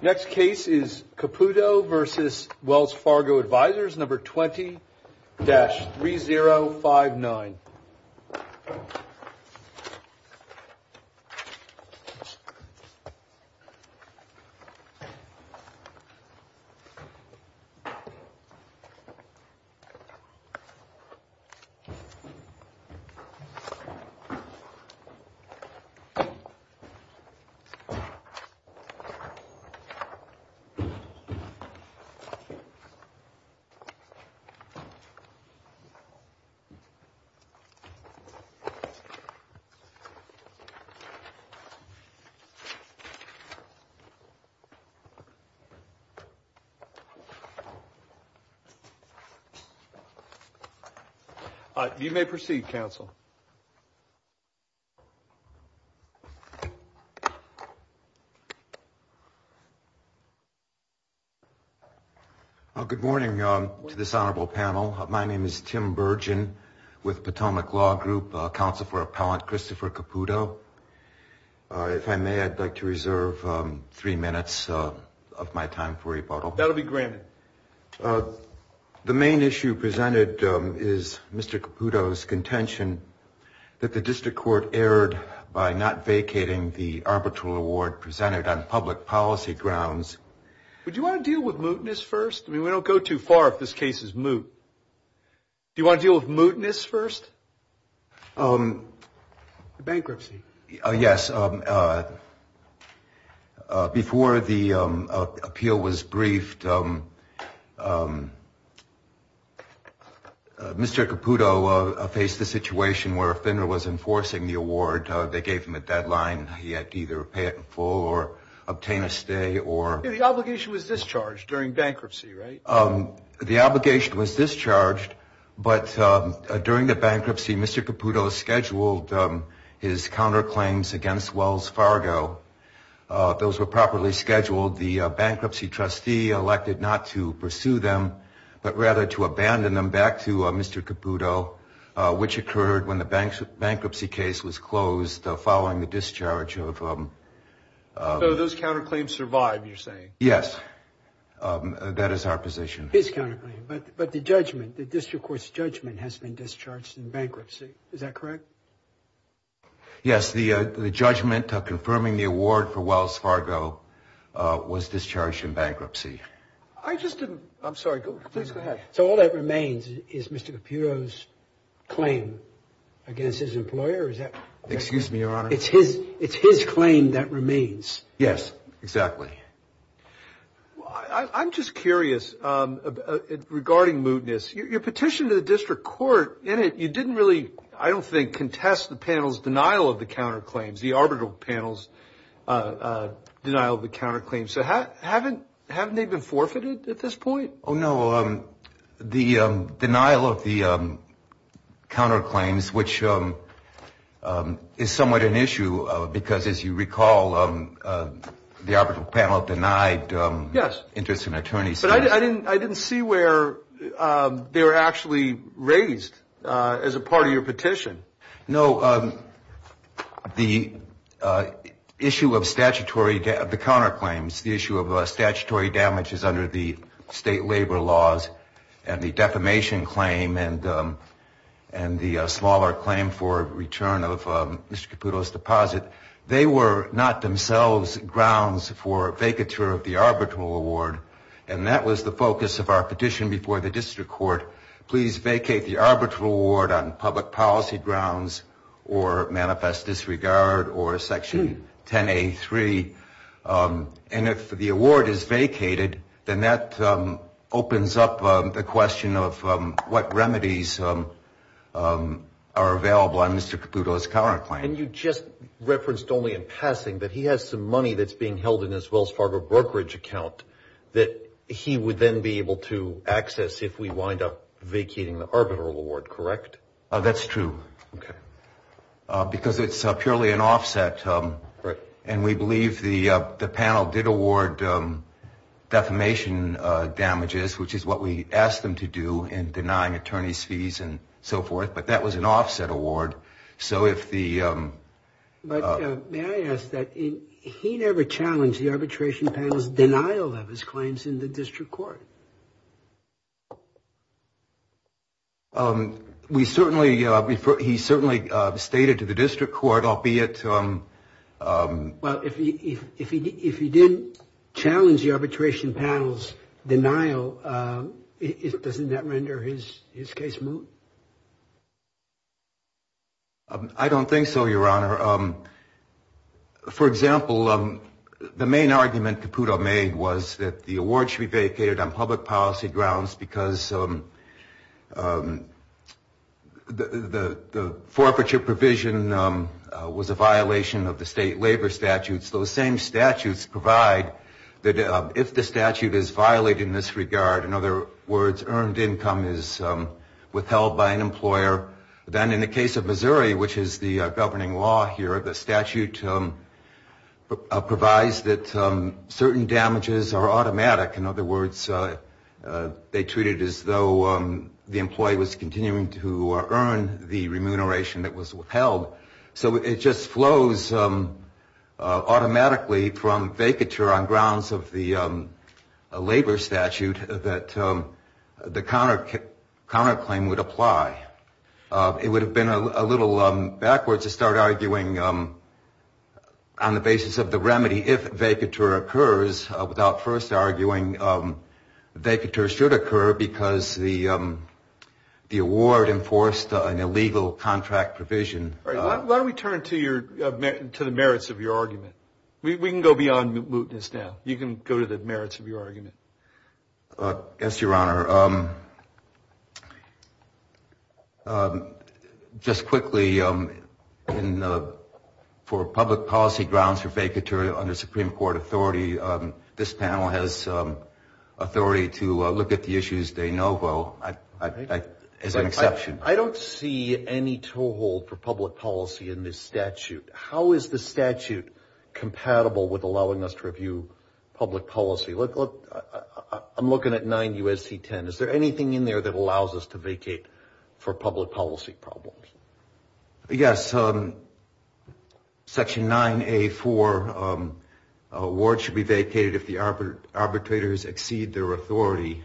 Next case is Caputo v. Wells Fargo Advisors, number 20-3059. You may proceed, counsel. Well, good morning to this honorable panel. My name is Tim Burgin with Potomac Law Group, counsel for appellant Christopher Caputo. If I may, I'd like to reserve three minutes of my time for rebuttal. That will be granted. The main issue presented is Mr. Caputo's contention that the district court erred by not vacating the arbitral award presented on public policy grounds. Would you want to deal with mootness first? I mean, we don't go too far if this case is moot. Do you want to deal with mootness first? Bankruptcy. Yes. Before the appeal was briefed, Mr. Caputo faced a situation where a vendor was enforcing the award. They gave him a deadline. He had to either pay it in full or obtain a stay or... The obligation was discharged during bankruptcy, right? The obligation was discharged, but during the bankruptcy, Mr. Caputo scheduled his counterclaims against Wells Fargo. Those were properly scheduled. The bankruptcy trustee elected not to pursue them but rather to abandon them back to Mr. Caputo, which occurred when the bankruptcy case was closed following the discharge of... So those counterclaims survived, you're saying? Yes. That is our position. His counterclaim, but the judgment, the district court's judgment has been discharged in bankruptcy. Is that correct? Yes. The judgment confirming the award for Wells Fargo was discharged in bankruptcy. I just didn't... I'm sorry. Please go ahead. So all that remains is Mr. Caputo's claim against his employer? Excuse me, Your Honor. It's his claim that remains. Yes, exactly. I'm just curious regarding mootness. Your petition to the district court, in it you didn't really, I don't think, contest the panel's denial of the counterclaims, the arbitral panel's denial of the counterclaims. So haven't they been forfeited at this point? Oh, no. The denial of the counterclaims, which is somewhat an issue because, as you recall, the arbitral panel denied interest in attorneys. Yes. But I didn't see where they were actually raised as a part of your petition. No. The issue of statutory, the counterclaims, the issue of statutory damages under the state labor laws and the defamation claim and the smaller claim for return of Mr. Caputo's deposit, they were not themselves grounds for vacatur of the arbitral award, and that was the focus of our petition before the district court. Please vacate the arbitral award on public policy grounds or manifest disregard or Section 10A3. And if the award is vacated, then that opens up the question of what remedies are available on Mr. Caputo's counterclaims. And you just referenced only in passing that he has some money that's being held in his Wells Fargo brokerage account that he would then be able to access if we wind up vacating the arbitral award, correct? That's true, because it's purely an offset. And we believe the panel did award defamation damages, which is what we asked them to do in denying attorneys fees and so forth. But that was an offset award. But may I ask that he never challenged the arbitration panel's denial of his claims in the district court? He certainly stated to the district court, albeit. Well, if he did challenge the arbitration panel's denial, doesn't that render his case moot? I don't think so, Your Honor. For example, the main argument Caputo made was that the award should be vacated on public policy grounds because the forfeiture provision was a violation of the state labor statutes. Those same statutes provide that if the statute is violated in this regard, in other words, earned income is withheld by an employer. Then in the case of Missouri, which is the governing law here, the statute provides that certain damages are automatic. In other words, they treat it as though the employee was continuing to earn the remuneration that was withheld. So it just flows automatically from vacature on grounds of the labor statute that the counterclaim would apply. It would have been a little backwards to start arguing on the basis of the remedy if vacature occurs without first arguing vacature should occur because the award enforced an illegal contract provision. Why don't we turn to the merits of your argument? We can go beyond mootness now. You can go to the merits of your argument. Yes, Your Honor. Your Honor, just quickly, for public policy grounds for vacature under Supreme Court authority, this panel has authority to look at the issues de novo as an exception. I don't see any toehold for public policy in this statute. How is the statute compatible with allowing us to review public policy? Look, I'm looking at 9 U.S.C. 10. Is there anything in there that allows us to vacate for public policy problems? Section 9A4, award should be vacated if the arbitrators exceed their authority.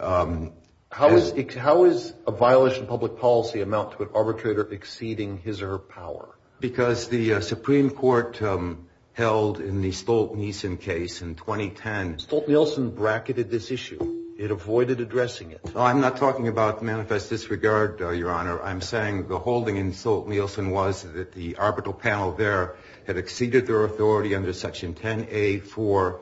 How is a violation of public policy amount to an arbitrator exceeding his or her power? Because the Supreme Court held in the Stolt-Nielsen case in 2010. Stolt-Nielsen bracketed this issue. It avoided addressing it. I'm not talking about manifest disregard, Your Honor. I'm saying the holding in Stolt-Nielsen was that the arbitral panel there had exceeded their authority under Section 10A4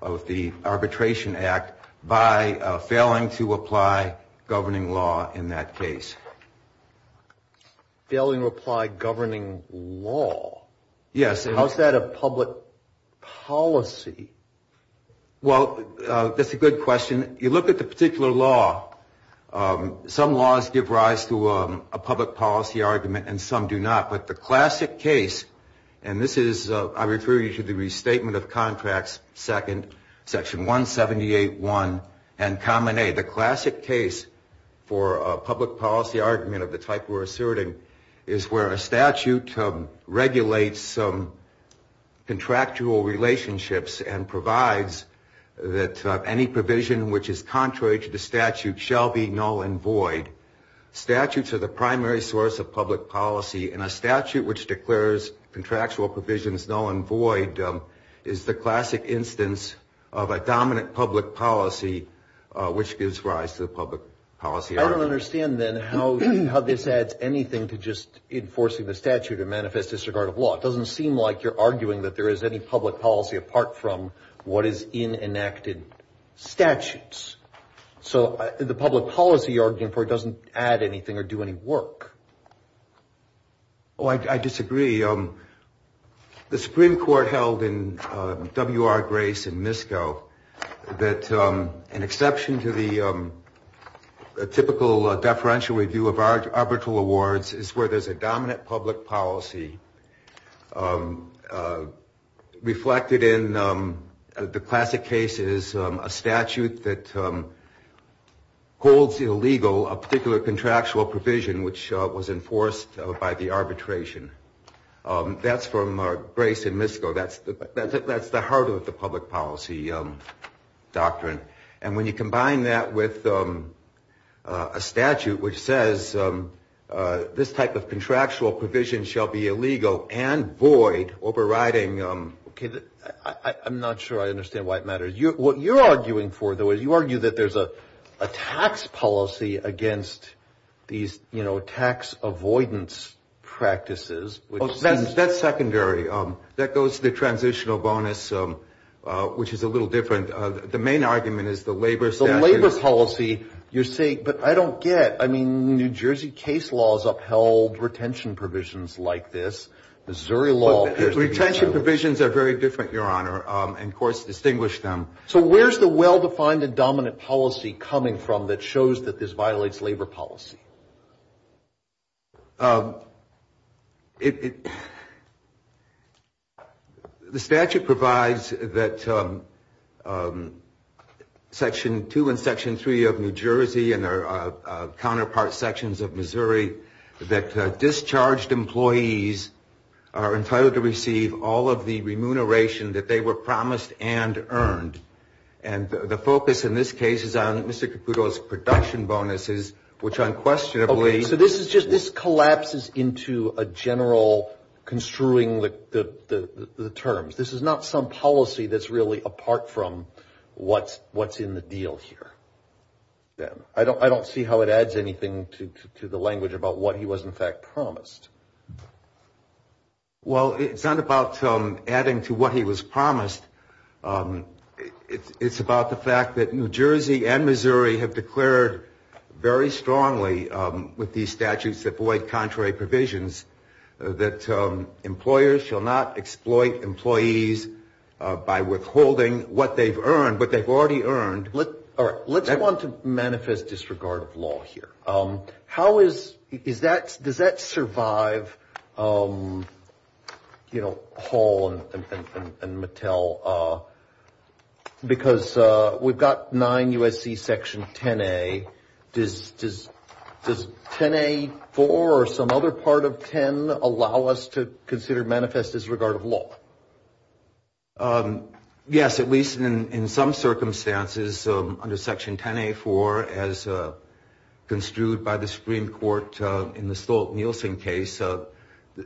of the Arbitration Act by failing to apply governing law in that case. Failing to apply governing law? Yes. How is that a public policy? Well, that's a good question. You look at the particular law, some laws give rise to a public policy argument and some do not. But the classic case, and this is, I refer you to the Restatement of Contracts, Section 178.1 and Common A. The classic case for a public policy argument of the type we're asserting is where a statute regulates contractual relationships and provides that any provision which is contrary to the statute shall be null and void. Statutes are the primary source of public policy, and a statute which declares contractual provisions null and void is the classic instance of a dominant public policy which gives rise to the public policy argument. I don't understand, then, how this adds anything to just enforcing the statute of manifest disregard of law. It doesn't seem like you're arguing that there is any public policy apart from what is in enacted statutes. So the public policy argument doesn't add anything or do any work. Oh, I disagree. The Supreme Court held in W.R. Grace in Misko that an exception to the typical deferential review of arbitral awards is where there's a dominant public policy reflected in, the classic case is, a statute that holds illegal a particular contractual provision which was enforced by the arbitration. That's from Grace in Misko. That's the heart of the public policy doctrine. And when you combine that with a statute which says this type of contractual provision shall be illegal and void, overriding, I'm not sure I understand why it matters. What you're arguing for, though, is you argue that there's a tax policy against these tax avoidance practices. That's secondary. That goes to the transitional bonus, which is a little different. The main argument is the labor statute. The labor policy, you're saying, but I don't get. I mean, New Jersey case laws upheld retention provisions like this. Missouri law appears to be different. Retention provisions are very different, Your Honor, and courts distinguish them. So where's the well-defined and dominant policy coming from that shows that this violates labor policy? The statute provides that Section 2 and Section 3 of New Jersey and their counterpart sections of Missouri, that discharged employees are entitled to receive all of the remuneration that they were promised and earned. And the focus in this case is on Mr. Caputo's production bonuses, which unquestionably. So this is just this collapses into a general construing the terms. This is not some policy that's really apart from what's in the deal here. I don't see how it adds anything to the language about what he was, in fact, promised. Well, it's not about adding to what he was promised. It's about the fact that New Jersey and Missouri have declared very strongly with these statutes that void contrary provisions, that employers shall not exploit employees by withholding what they've earned, what they've already earned. All right. Let's want to manifest disregard of law here. How is is that does that survive, you know, Hall and Mattel? Because we've got nine U.S.C. Section 10-A. Does 10-A-4 or some other part of 10 allow us to consider manifest disregard of law? Yes, at least in some circumstances under Section 10-A-4, as construed by the Supreme Court in the Stolt-Nielsen case. As I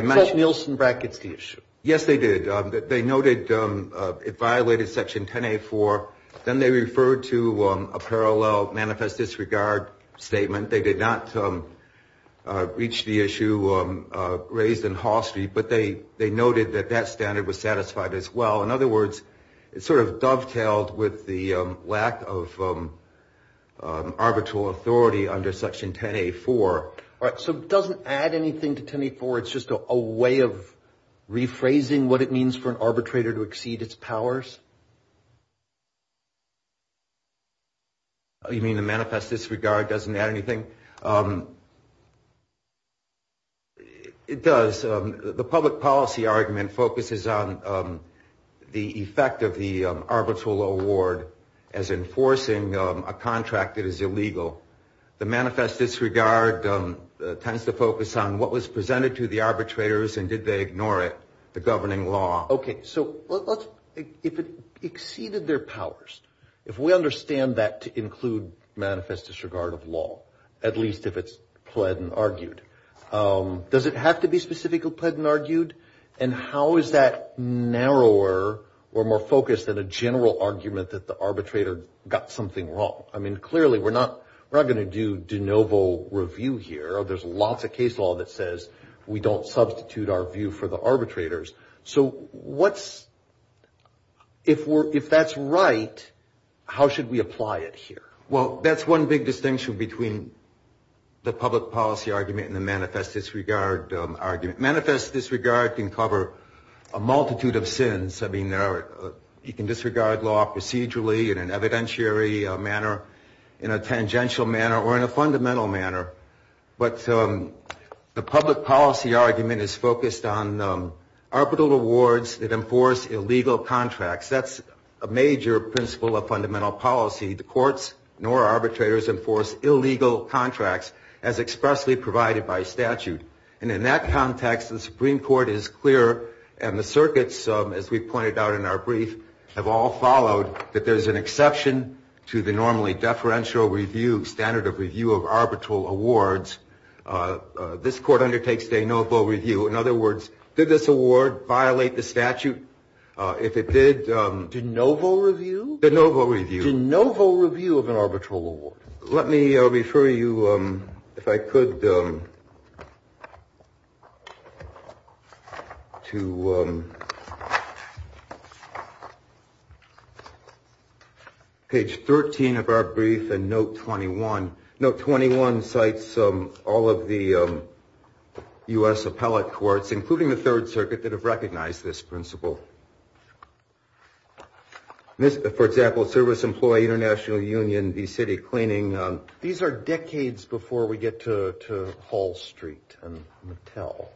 mentioned. Stolt-Nielsen brackets the issue. Yes, they did. They noted it violated Section 10-A-4. Then they referred to a parallel manifest disregard statement. They did not reach the issue raised in Hall Street, but they noted that that standard was satisfied as well. In other words, it sort of dovetailed with the lack of arbitral authority under Section 10-A-4. All right. So it doesn't add anything to 10-A-4. It's just a way of rephrasing what it means for an arbitrator to exceed its powers? You mean the manifest disregard doesn't add anything? It does. The public policy argument focuses on the effect of the arbitral award as enforcing a contract that is illegal. The manifest disregard tends to focus on what was presented to the arbitrators and did they ignore it, the governing law. Okay. So if it exceeded their powers, if we understand that to include manifest disregard of law, at least if it's pled and argued, does it have to be specifically pled and argued? And how is that narrower or more focused than a general argument that the arbitrator got something wrong? I mean, clearly we're not going to do de novo review here. There's lots of case law that says we don't substitute our view for the arbitrators. So if that's right, how should we apply it here? Well, that's one big distinction between the public policy argument and the manifest disregard argument. Manifest disregard can cover a multitude of sins. I mean, you can disregard law procedurally in an evidentiary manner, in a tangential manner, or in a fundamental manner. But the public policy argument is focused on arbitral awards that enforce illegal contracts. That's a major principle of fundamental policy. The courts nor arbitrators enforce illegal contracts as expressly provided by statute. And in that context, the Supreme Court is clear and the circuits, as we pointed out in our brief, have all followed that there's an exception to the normally deferential review, standard of review of arbitral awards. This Court undertakes de novo review. In other words, did this award violate the statute? If it did, De novo review? De novo review. De novo review of an arbitral award. Let me refer you, if I could, to page 13 of our brief and note 21. Note 21 cites all of the U.S. appellate courts, including the Third Circuit, that have recognized this principle. For example, Service Employee International Union v. City Cleaning. These are decades before we get to Hall Street and Mattel.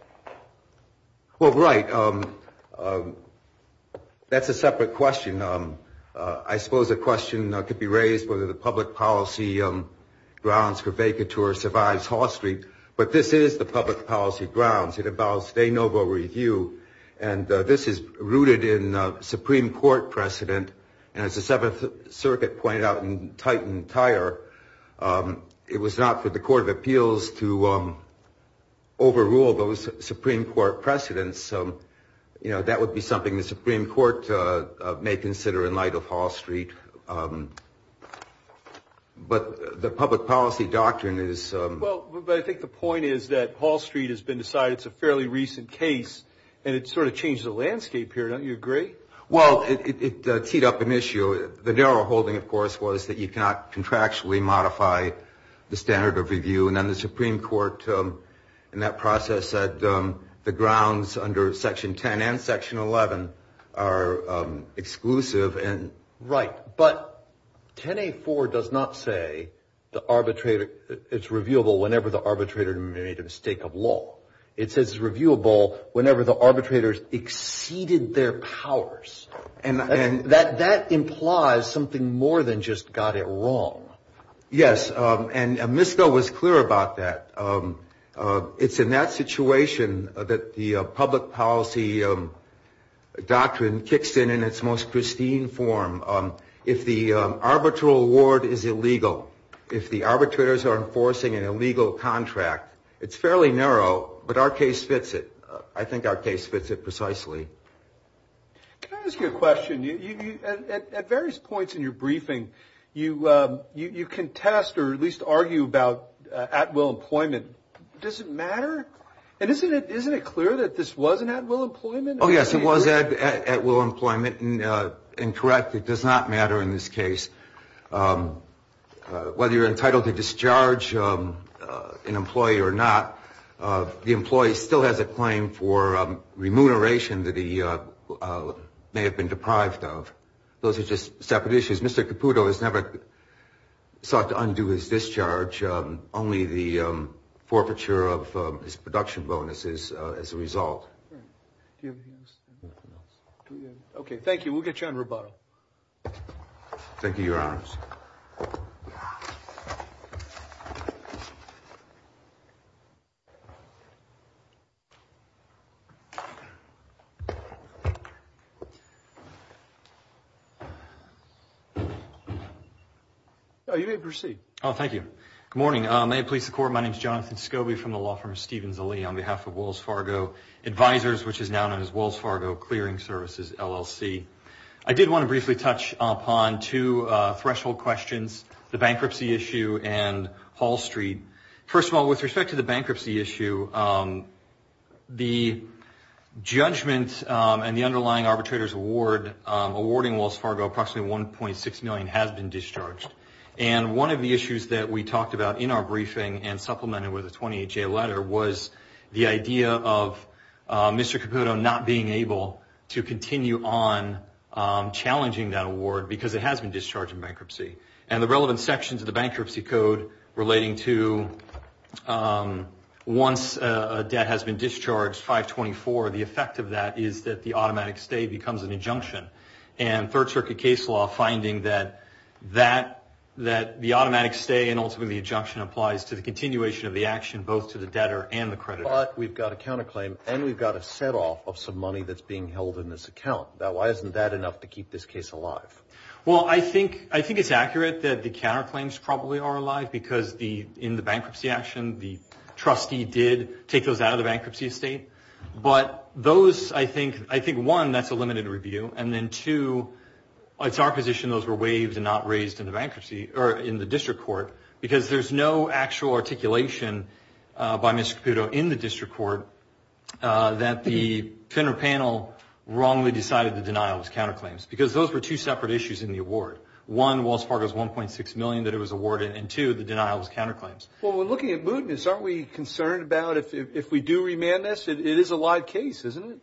Well, right. That's a separate question. I suppose a question could be raised whether the public policy grounds for vacatur survives Hall Street. But this is the public policy grounds. It involves de novo review. And this is rooted in Supreme Court precedent. And as the Seventh Circuit pointed out in Titan Tire, it was not for the Court of Appeals to overrule those Supreme Court precedents. You know, that would be something the Supreme Court may consider in light of Hall Street. But the public policy doctrine is. Well, I think the point is that Hall Street has been decided. It's a fairly recent case. And it sort of changed the landscape here. Don't you agree? Well, it teed up an issue. The narrow holding, of course, was that you cannot contractually modify the standard of review. And then the Supreme Court in that process said the grounds under Section 10 and Section 11 are exclusive. Right. But 10A4 does not say it's reviewable whenever the arbitrator made a mistake of law. It says it's reviewable whenever the arbitrator exceeded their powers. And that implies something more than just got it wrong. Yes. And Ms. Snow was clear about that. It's in that situation that the public policy doctrine kicks in in its most pristine form. If the arbitral award is illegal, if the arbitrators are enforcing an illegal contract, it's fairly narrow, but our case fits it. I think our case fits it precisely. Can I ask you a question? At various points in your briefing, you contest or at least argue about at-will employment. Does it matter? And isn't it clear that this was an at-will employment? Oh, yes, it was at-will employment. And, correct, it does not matter in this case. Whether you're entitled to discharge an employee or not, the employee still has a claim for remuneration that he may have been deprived of. Those are just separate issues. Mr. Caputo has never sought to undo his discharge. Only the forfeiture of his production bonuses as a result. Okay, thank you. We'll get you on rebuttal. Thank you, Your Honors. You may proceed. Thank you. Good morning. May it please the Court, my name is Jonathan Scobie from the law firm of Stevens & Lee on behalf of Wells Fargo Advisors, which is now known as Wells Fargo Clearing Services, LLC. I did want to briefly touch upon two threshold questions, the bankruptcy issue and Hall Street. First of all, with respect to the bankruptcy issue, the judgment and the underlying arbitrator's award, awarding Wells Fargo approximately $1.6 million has been discharged. And one of the issues that we talked about in our briefing and supplemented with a 28-J letter was the idea of Mr. Caputo not being able to continue on challenging that award because it has been discharged in bankruptcy. And the relevant sections of the bankruptcy code relating to once a debt has been discharged, 524, the effect of that is that the automatic stay becomes an injunction. And third circuit case law finding that the automatic stay and ultimately injunction applies to the continuation of the action both to the debtor and the creditor. But we've got a counterclaim and we've got a set off of some money that's being held in this account. Why isn't that enough to keep this case alive? Well, I think it's accurate that the counterclaims probably are alive because in the bankruptcy action, the trustee did take those out of the bankruptcy estate. But those, I think, one, that's a limited review. And then two, it's our position those were waived and not raised in the district court because there's no actual articulation by Mr. Caputo in the district court that the center panel wrongly decided the denial was counterclaims because those were two separate issues in the award. One, Wells Fargo's $1.6 million that it was awarded. And two, the denial was counterclaims. Well, we're looking at mootness. Aren't we concerned about if we do remand this? It is a live case, isn't it?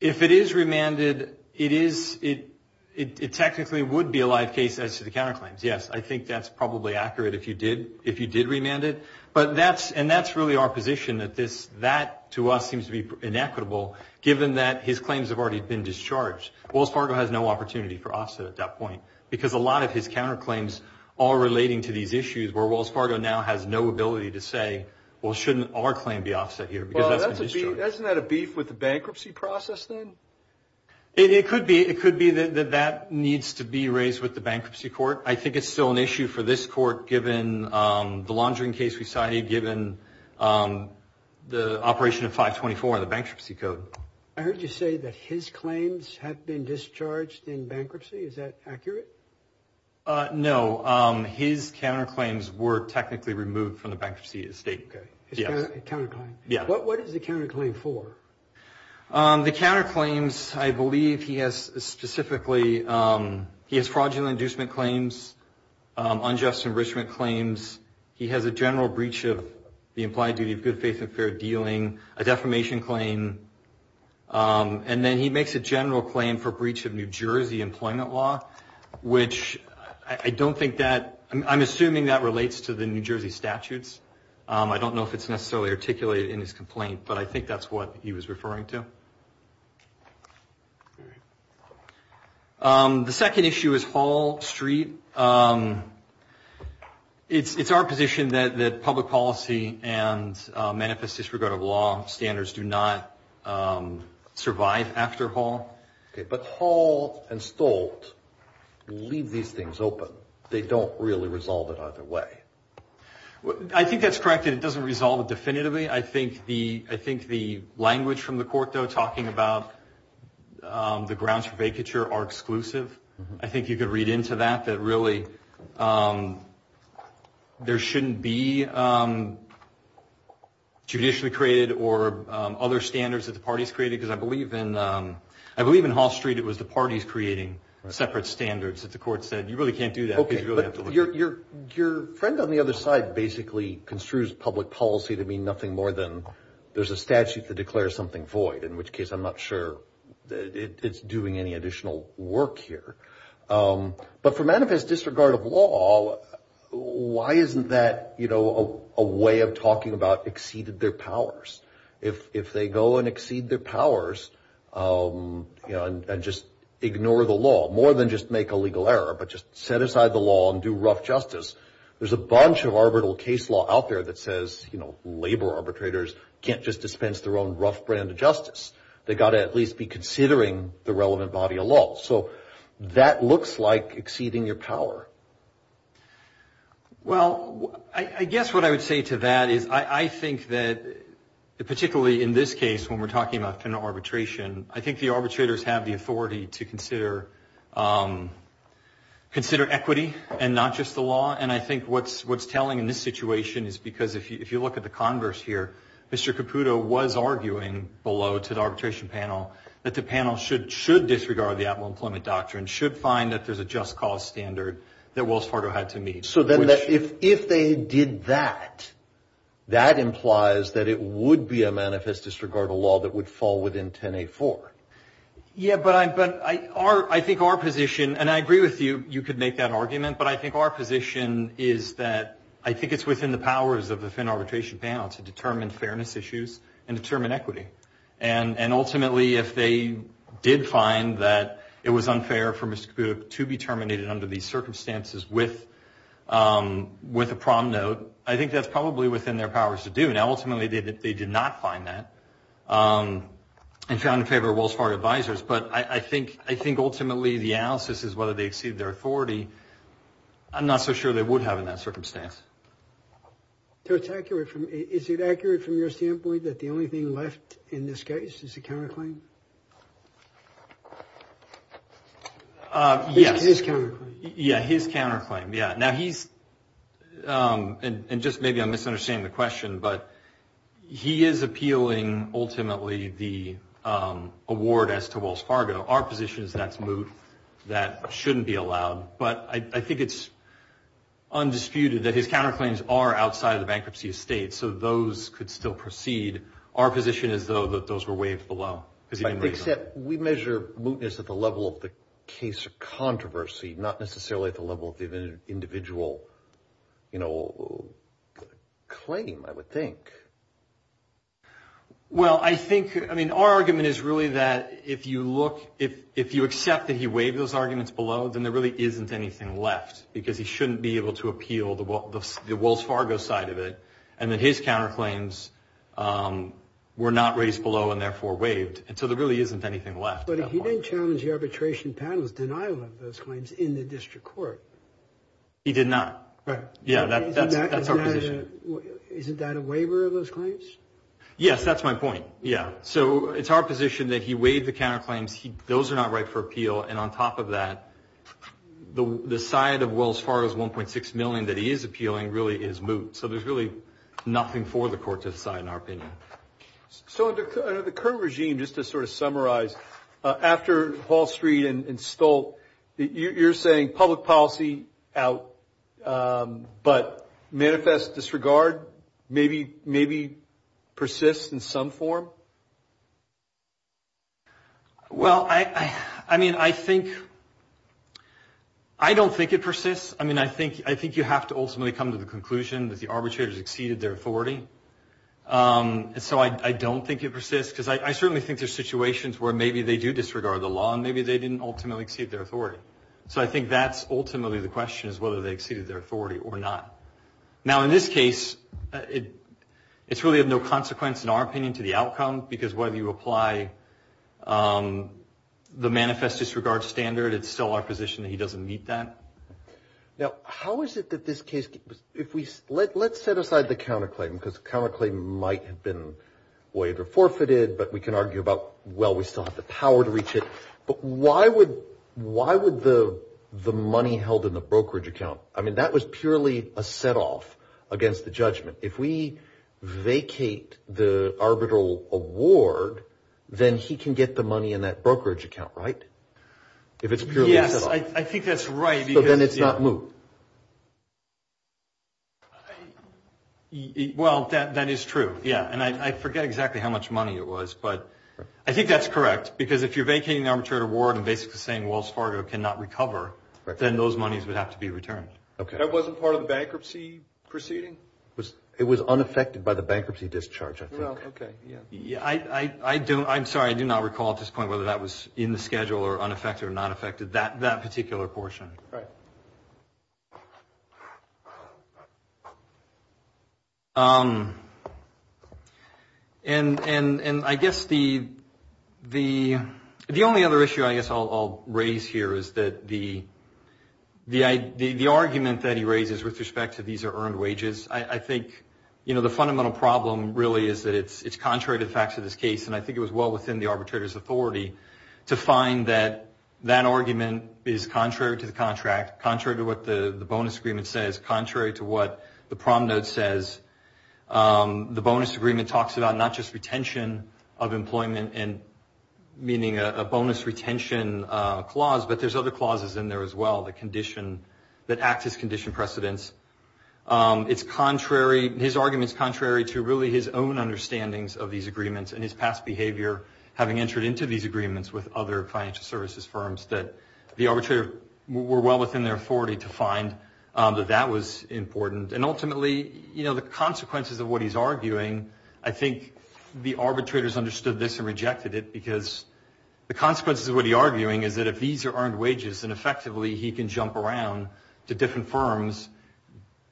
If it is remanded, it technically would be a live case as to the counterclaims, yes. I think that's probably accurate if you did remand it. And that's really our position that that, to us, seems to be inequitable given that his claims have already been discharged. Wells Fargo has no opportunity for offset at that point because a lot of his counterclaims are relating to these issues where Wells Fargo now has no ability to say, well, shouldn't our claim be offset here? Well, isn't that a beef with the bankruptcy process then? It could be that that needs to be raised with the bankruptcy court. I think it's still an issue for this court given the laundering case we cited, given the operation of 524 and the bankruptcy code. I heard you say that his claims have been discharged in bankruptcy. Is that accurate? No. His counterclaims were technically removed from the bankruptcy estate. His counterclaim? Yes. What is the counterclaim for? The counterclaims, I believe he has specifically fraudulent inducement claims, unjust enrichment claims. He has a general breach of the implied duty of good faith and fair dealing, a defamation claim. And then he makes a general claim for breach of New Jersey employment law, which I don't think that, I'm assuming that relates to the New Jersey statutes. I don't know if it's necessarily articulated in his complaint, but I think that's what he was referring to. The second issue is Hall Street. It's our position that public policy and manifest disregard of law standards do not survive after Hall. But Hall and Stolt leave these things open. They don't really resolve it either way. I think that's correct. It doesn't resolve it definitively. I think the language from the court, though, talking about the grounds for vacature are exclusive. I think you could read into that that really there shouldn't be judicially created or other standards that the parties created. Because I believe in Hall Street it was the parties creating separate standards that the court said, you really can't do that because you really have to look at it. Okay, but your friend on the other side basically construes public policy to mean nothing more than there's a statute that declares something void, in which case I'm not sure that it's doing any additional work here. But for manifest disregard of law, why isn't that a way of talking about exceeded their powers? If they go and exceed their powers and just ignore the law, more than just make a legal error, but just set aside the law and do rough justice, there's a bunch of arbitral case law out there that says, you know, labor arbitrators can't just dispense their own rough brand of justice. They've got to at least be considering the relevant body of law. So that looks like exceeding your power. Well, I guess what I would say to that is I think that particularly in this case, when we're talking about penal arbitration, I think the arbitrators have the authority to consider equity and not just the law. And I think what's telling in this situation is because if you look at the converse here, Mr. Caputo was arguing below to the arbitration panel that the panel should disregard the optimal employment doctrine, should find that there's a just cause standard that Wells Fargo had to meet. So then if they did that, that implies that it would be a manifest disregard of law that would fall within 10A4. Yeah, but I think our position, and I agree with you, you could make that argument, but I think our position is that I think it's within the powers of the arbitration panel to determine fairness issues and determine equity. And ultimately, if they did find that it was unfair for Mr. Caputo to be terminated under these circumstances with a prom note, I think that's probably within their powers to do. Now, ultimately, they did not find that and found in favor of Wells Fargo advisors. But I think ultimately the analysis is whether they exceed their authority. I'm not so sure they would have in that circumstance. So it's accurate. Is it accurate from your standpoint that the only thing left in this case is a counterclaim? Yes. His counterclaim. Yeah, his counterclaim. Yeah, now he's, and just maybe I'm misunderstanding the question, but he is appealing ultimately the award as to Wells Fargo. Our position is that's moot. That shouldn't be allowed. But I think it's undisputed that his counterclaims are outside of the bankruptcy estate, so those could still proceed. Our position is, though, that those were waived below. Except we measure mootness at the level of the case of controversy, not necessarily at the level of the individual claim, I would think. Well, I think, I mean, our argument is really that if you look, if you accept that he waived those arguments below, then there really isn't anything left because he shouldn't be able to appeal the Wells Fargo side of it, and that his counterclaims were not raised below and therefore waived, and so there really isn't anything left at that point. But he didn't challenge the arbitration panel's denial of those claims in the district court. He did not. Right. Yeah, that's our position. Isn't that a waiver of those claims? Yes, that's my point, yeah. So it's our position that he waived the counterclaims. Those are not right for appeal, and on top of that, the side of Wells Fargo's $1.6 million that he is appealing really is moot. So there's really nothing for the court to decide, in our opinion. So under the current regime, just to sort of summarize, after Wall Street and Stolt, you're saying public policy out, but manifest disregard maybe persists in some form? Well, I mean, I think, I don't think it persists. I mean, I think you have to ultimately come to the conclusion that the arbitrators exceeded their authority, and so I don't think it persists because I certainly think there's situations where maybe they do disregard the law and maybe they didn't ultimately exceed their authority. So I think that's ultimately the question is whether they exceeded their authority or not. Now, in this case, it's really of no consequence, in our opinion, to the outcome, because whether you apply the manifest disregard standard, it's still our position that he doesn't meet that. Now, how is it that this case, let's set aside the counterclaim because the counterclaim might have been waived or forfeited, but we can argue about, well, we still have the power to reach it, but why would the money held in the brokerage account, I mean, that was purely a set off against the judgment. If we vacate the arbitral award, then he can get the money in that brokerage account, right? If it's purely a set off. Yes, I think that's right. So then it's not moved. Well, that is true, yeah, and I forget exactly how much money it was, but I think that's correct because if you're vacating the arbitrated award and basically saying Wells Fargo cannot recover, then those monies would have to be returned. Okay. That wasn't part of the bankruptcy proceeding? It was unaffected by the bankruptcy discharge, I think. Well, okay, yeah. I'm sorry, I do not recall at this point whether that was in the schedule or unaffected or not affected, that particular portion. Right. And I guess the only other issue I guess I'll raise here is that the argument that he raises with respect to these are earned wages, I think, you know, the fundamental problem really is that it's contrary to the facts of this case, and I think it was well within the arbitrator's authority to find that that argument is contrary to the contract, contrary to what the bonus agreement says, contrary to what the prom note says. The bonus agreement talks about not just retention of employment and meaning a bonus retention clause, but there's other clauses in there as well that condition, that act as condition precedents. It's contrary, his argument is contrary to really his own understandings of these agreements and his past behavior having entered into these agreements with other financial services firms that the arbitrator were well within their authority to find that that was important. And ultimately, you know, the consequences of what he's arguing, I think the arbitrators understood this and rejected it because the consequences of what he's arguing is that if these are earned wages, then effectively he can jump around to different firms,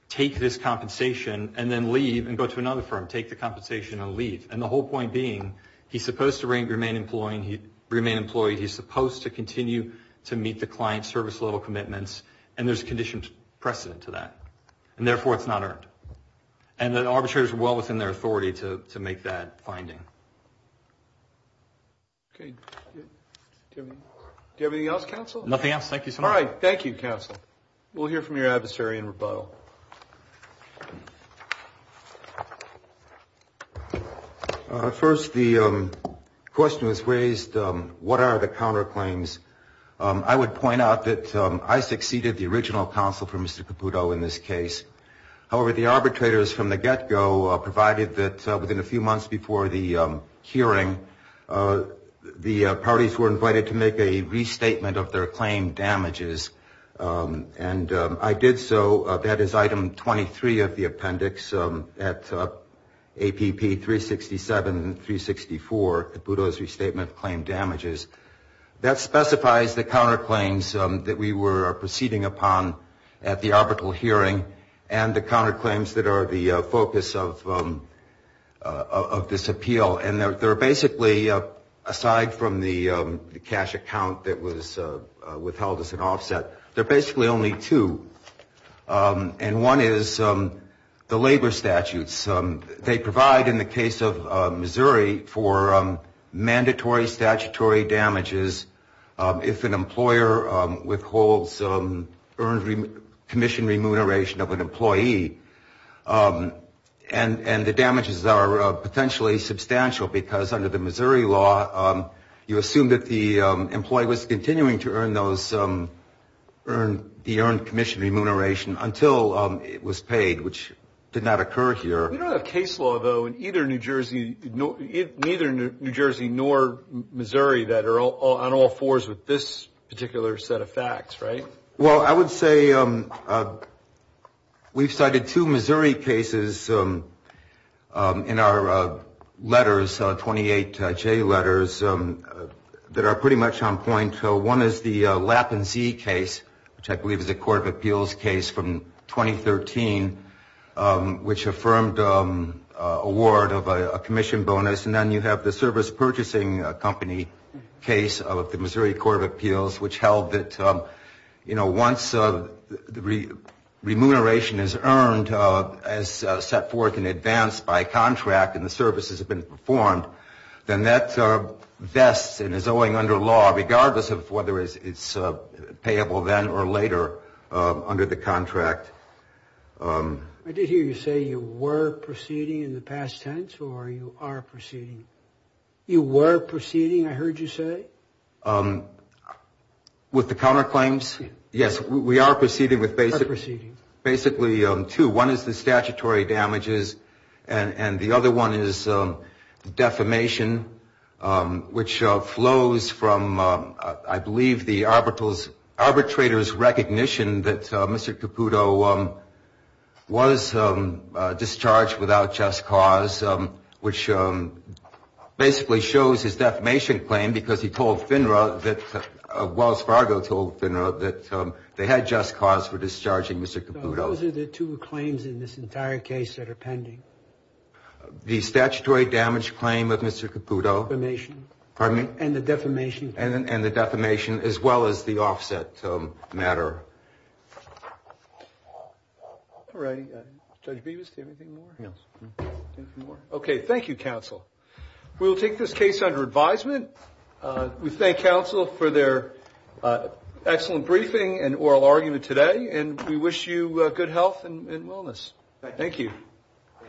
take this compensation, and then leave and go to another firm, take the compensation and leave. And the whole point being, he's supposed to remain employed, he's supposed to continue to meet the client service level commitments, and there's a conditioned precedent to that. And therefore, it's not earned. And the arbitrator is well within their authority to make that finding. Do you have anything else, counsel? Nothing else. Thank you so much. All right. Thank you, counsel. We'll hear from your adversary in rebuttal. First, the question was raised, what are the counterclaims? I would point out that I succeeded the original counsel for Mr. Caputo in this case. However, the arbitrators from the get-go provided that within a few months before the hearing, the parties were invited to make a restatement of their claim damages. And I did so. That is Item 23 of the appendix at APP 367 and 364, Caputo's Restatement of Claim Damages. That specifies the counterclaims that we were proceeding upon at the arbitral hearing and the counterclaims that are the focus of this appeal. And there are basically, aside from the cash account that was withheld as an offset, there are basically only two. And one is the labor statutes. They provide, in the case of Missouri, for mandatory statutory damages if an employer withholds earned commission remuneration of an employee. And the damages are potentially substantial because under the Missouri law, you assume that the employee was continuing to earn the earned commission remuneration until it was paid, which did not occur here. We don't have case law, though, in either New Jersey nor Missouri that are on all fours with this particular set of facts, right? Well, I would say we've cited two Missouri cases in our letters, 28J letters, that are pretty much on point. One is the Lapp & Zee case, which I believe is a court of appeals case from 2013, which affirmed award of a commission bonus. And then you have the service purchasing company case of the Missouri Court of Appeals, which held that once remuneration is earned as set forth in advance by contract and the services have been performed, then that vests and is owing under law, regardless of whether it's payable then or later under the contract. I did hear you say you were proceeding in the past tense, or you are proceeding? You were proceeding, I heard you say? With the counterclaims? Yes, we are proceeding with basically two. One is the statutory damages, and the other one is defamation, which flows from, I believe, the arbitrator's recognition that Mr. Caputo was discharged without just cause, which basically shows his defamation claim because he told FINRA that, Wells Fargo told FINRA that they had just cause for discharging Mr. Caputo. Those are the two claims in this entire case that are pending. The statutory damage claim of Mr. Caputo. Defamation. Pardon me? And the defamation claim. And the defamation, as well as the offset matter. All right, Judge Bevis, do you have anything more? No. Okay, thank you, counsel. We will take this case under advisement. We thank counsel for their excellent briefing and oral argument today, and we wish you good health and wellness. Thank you.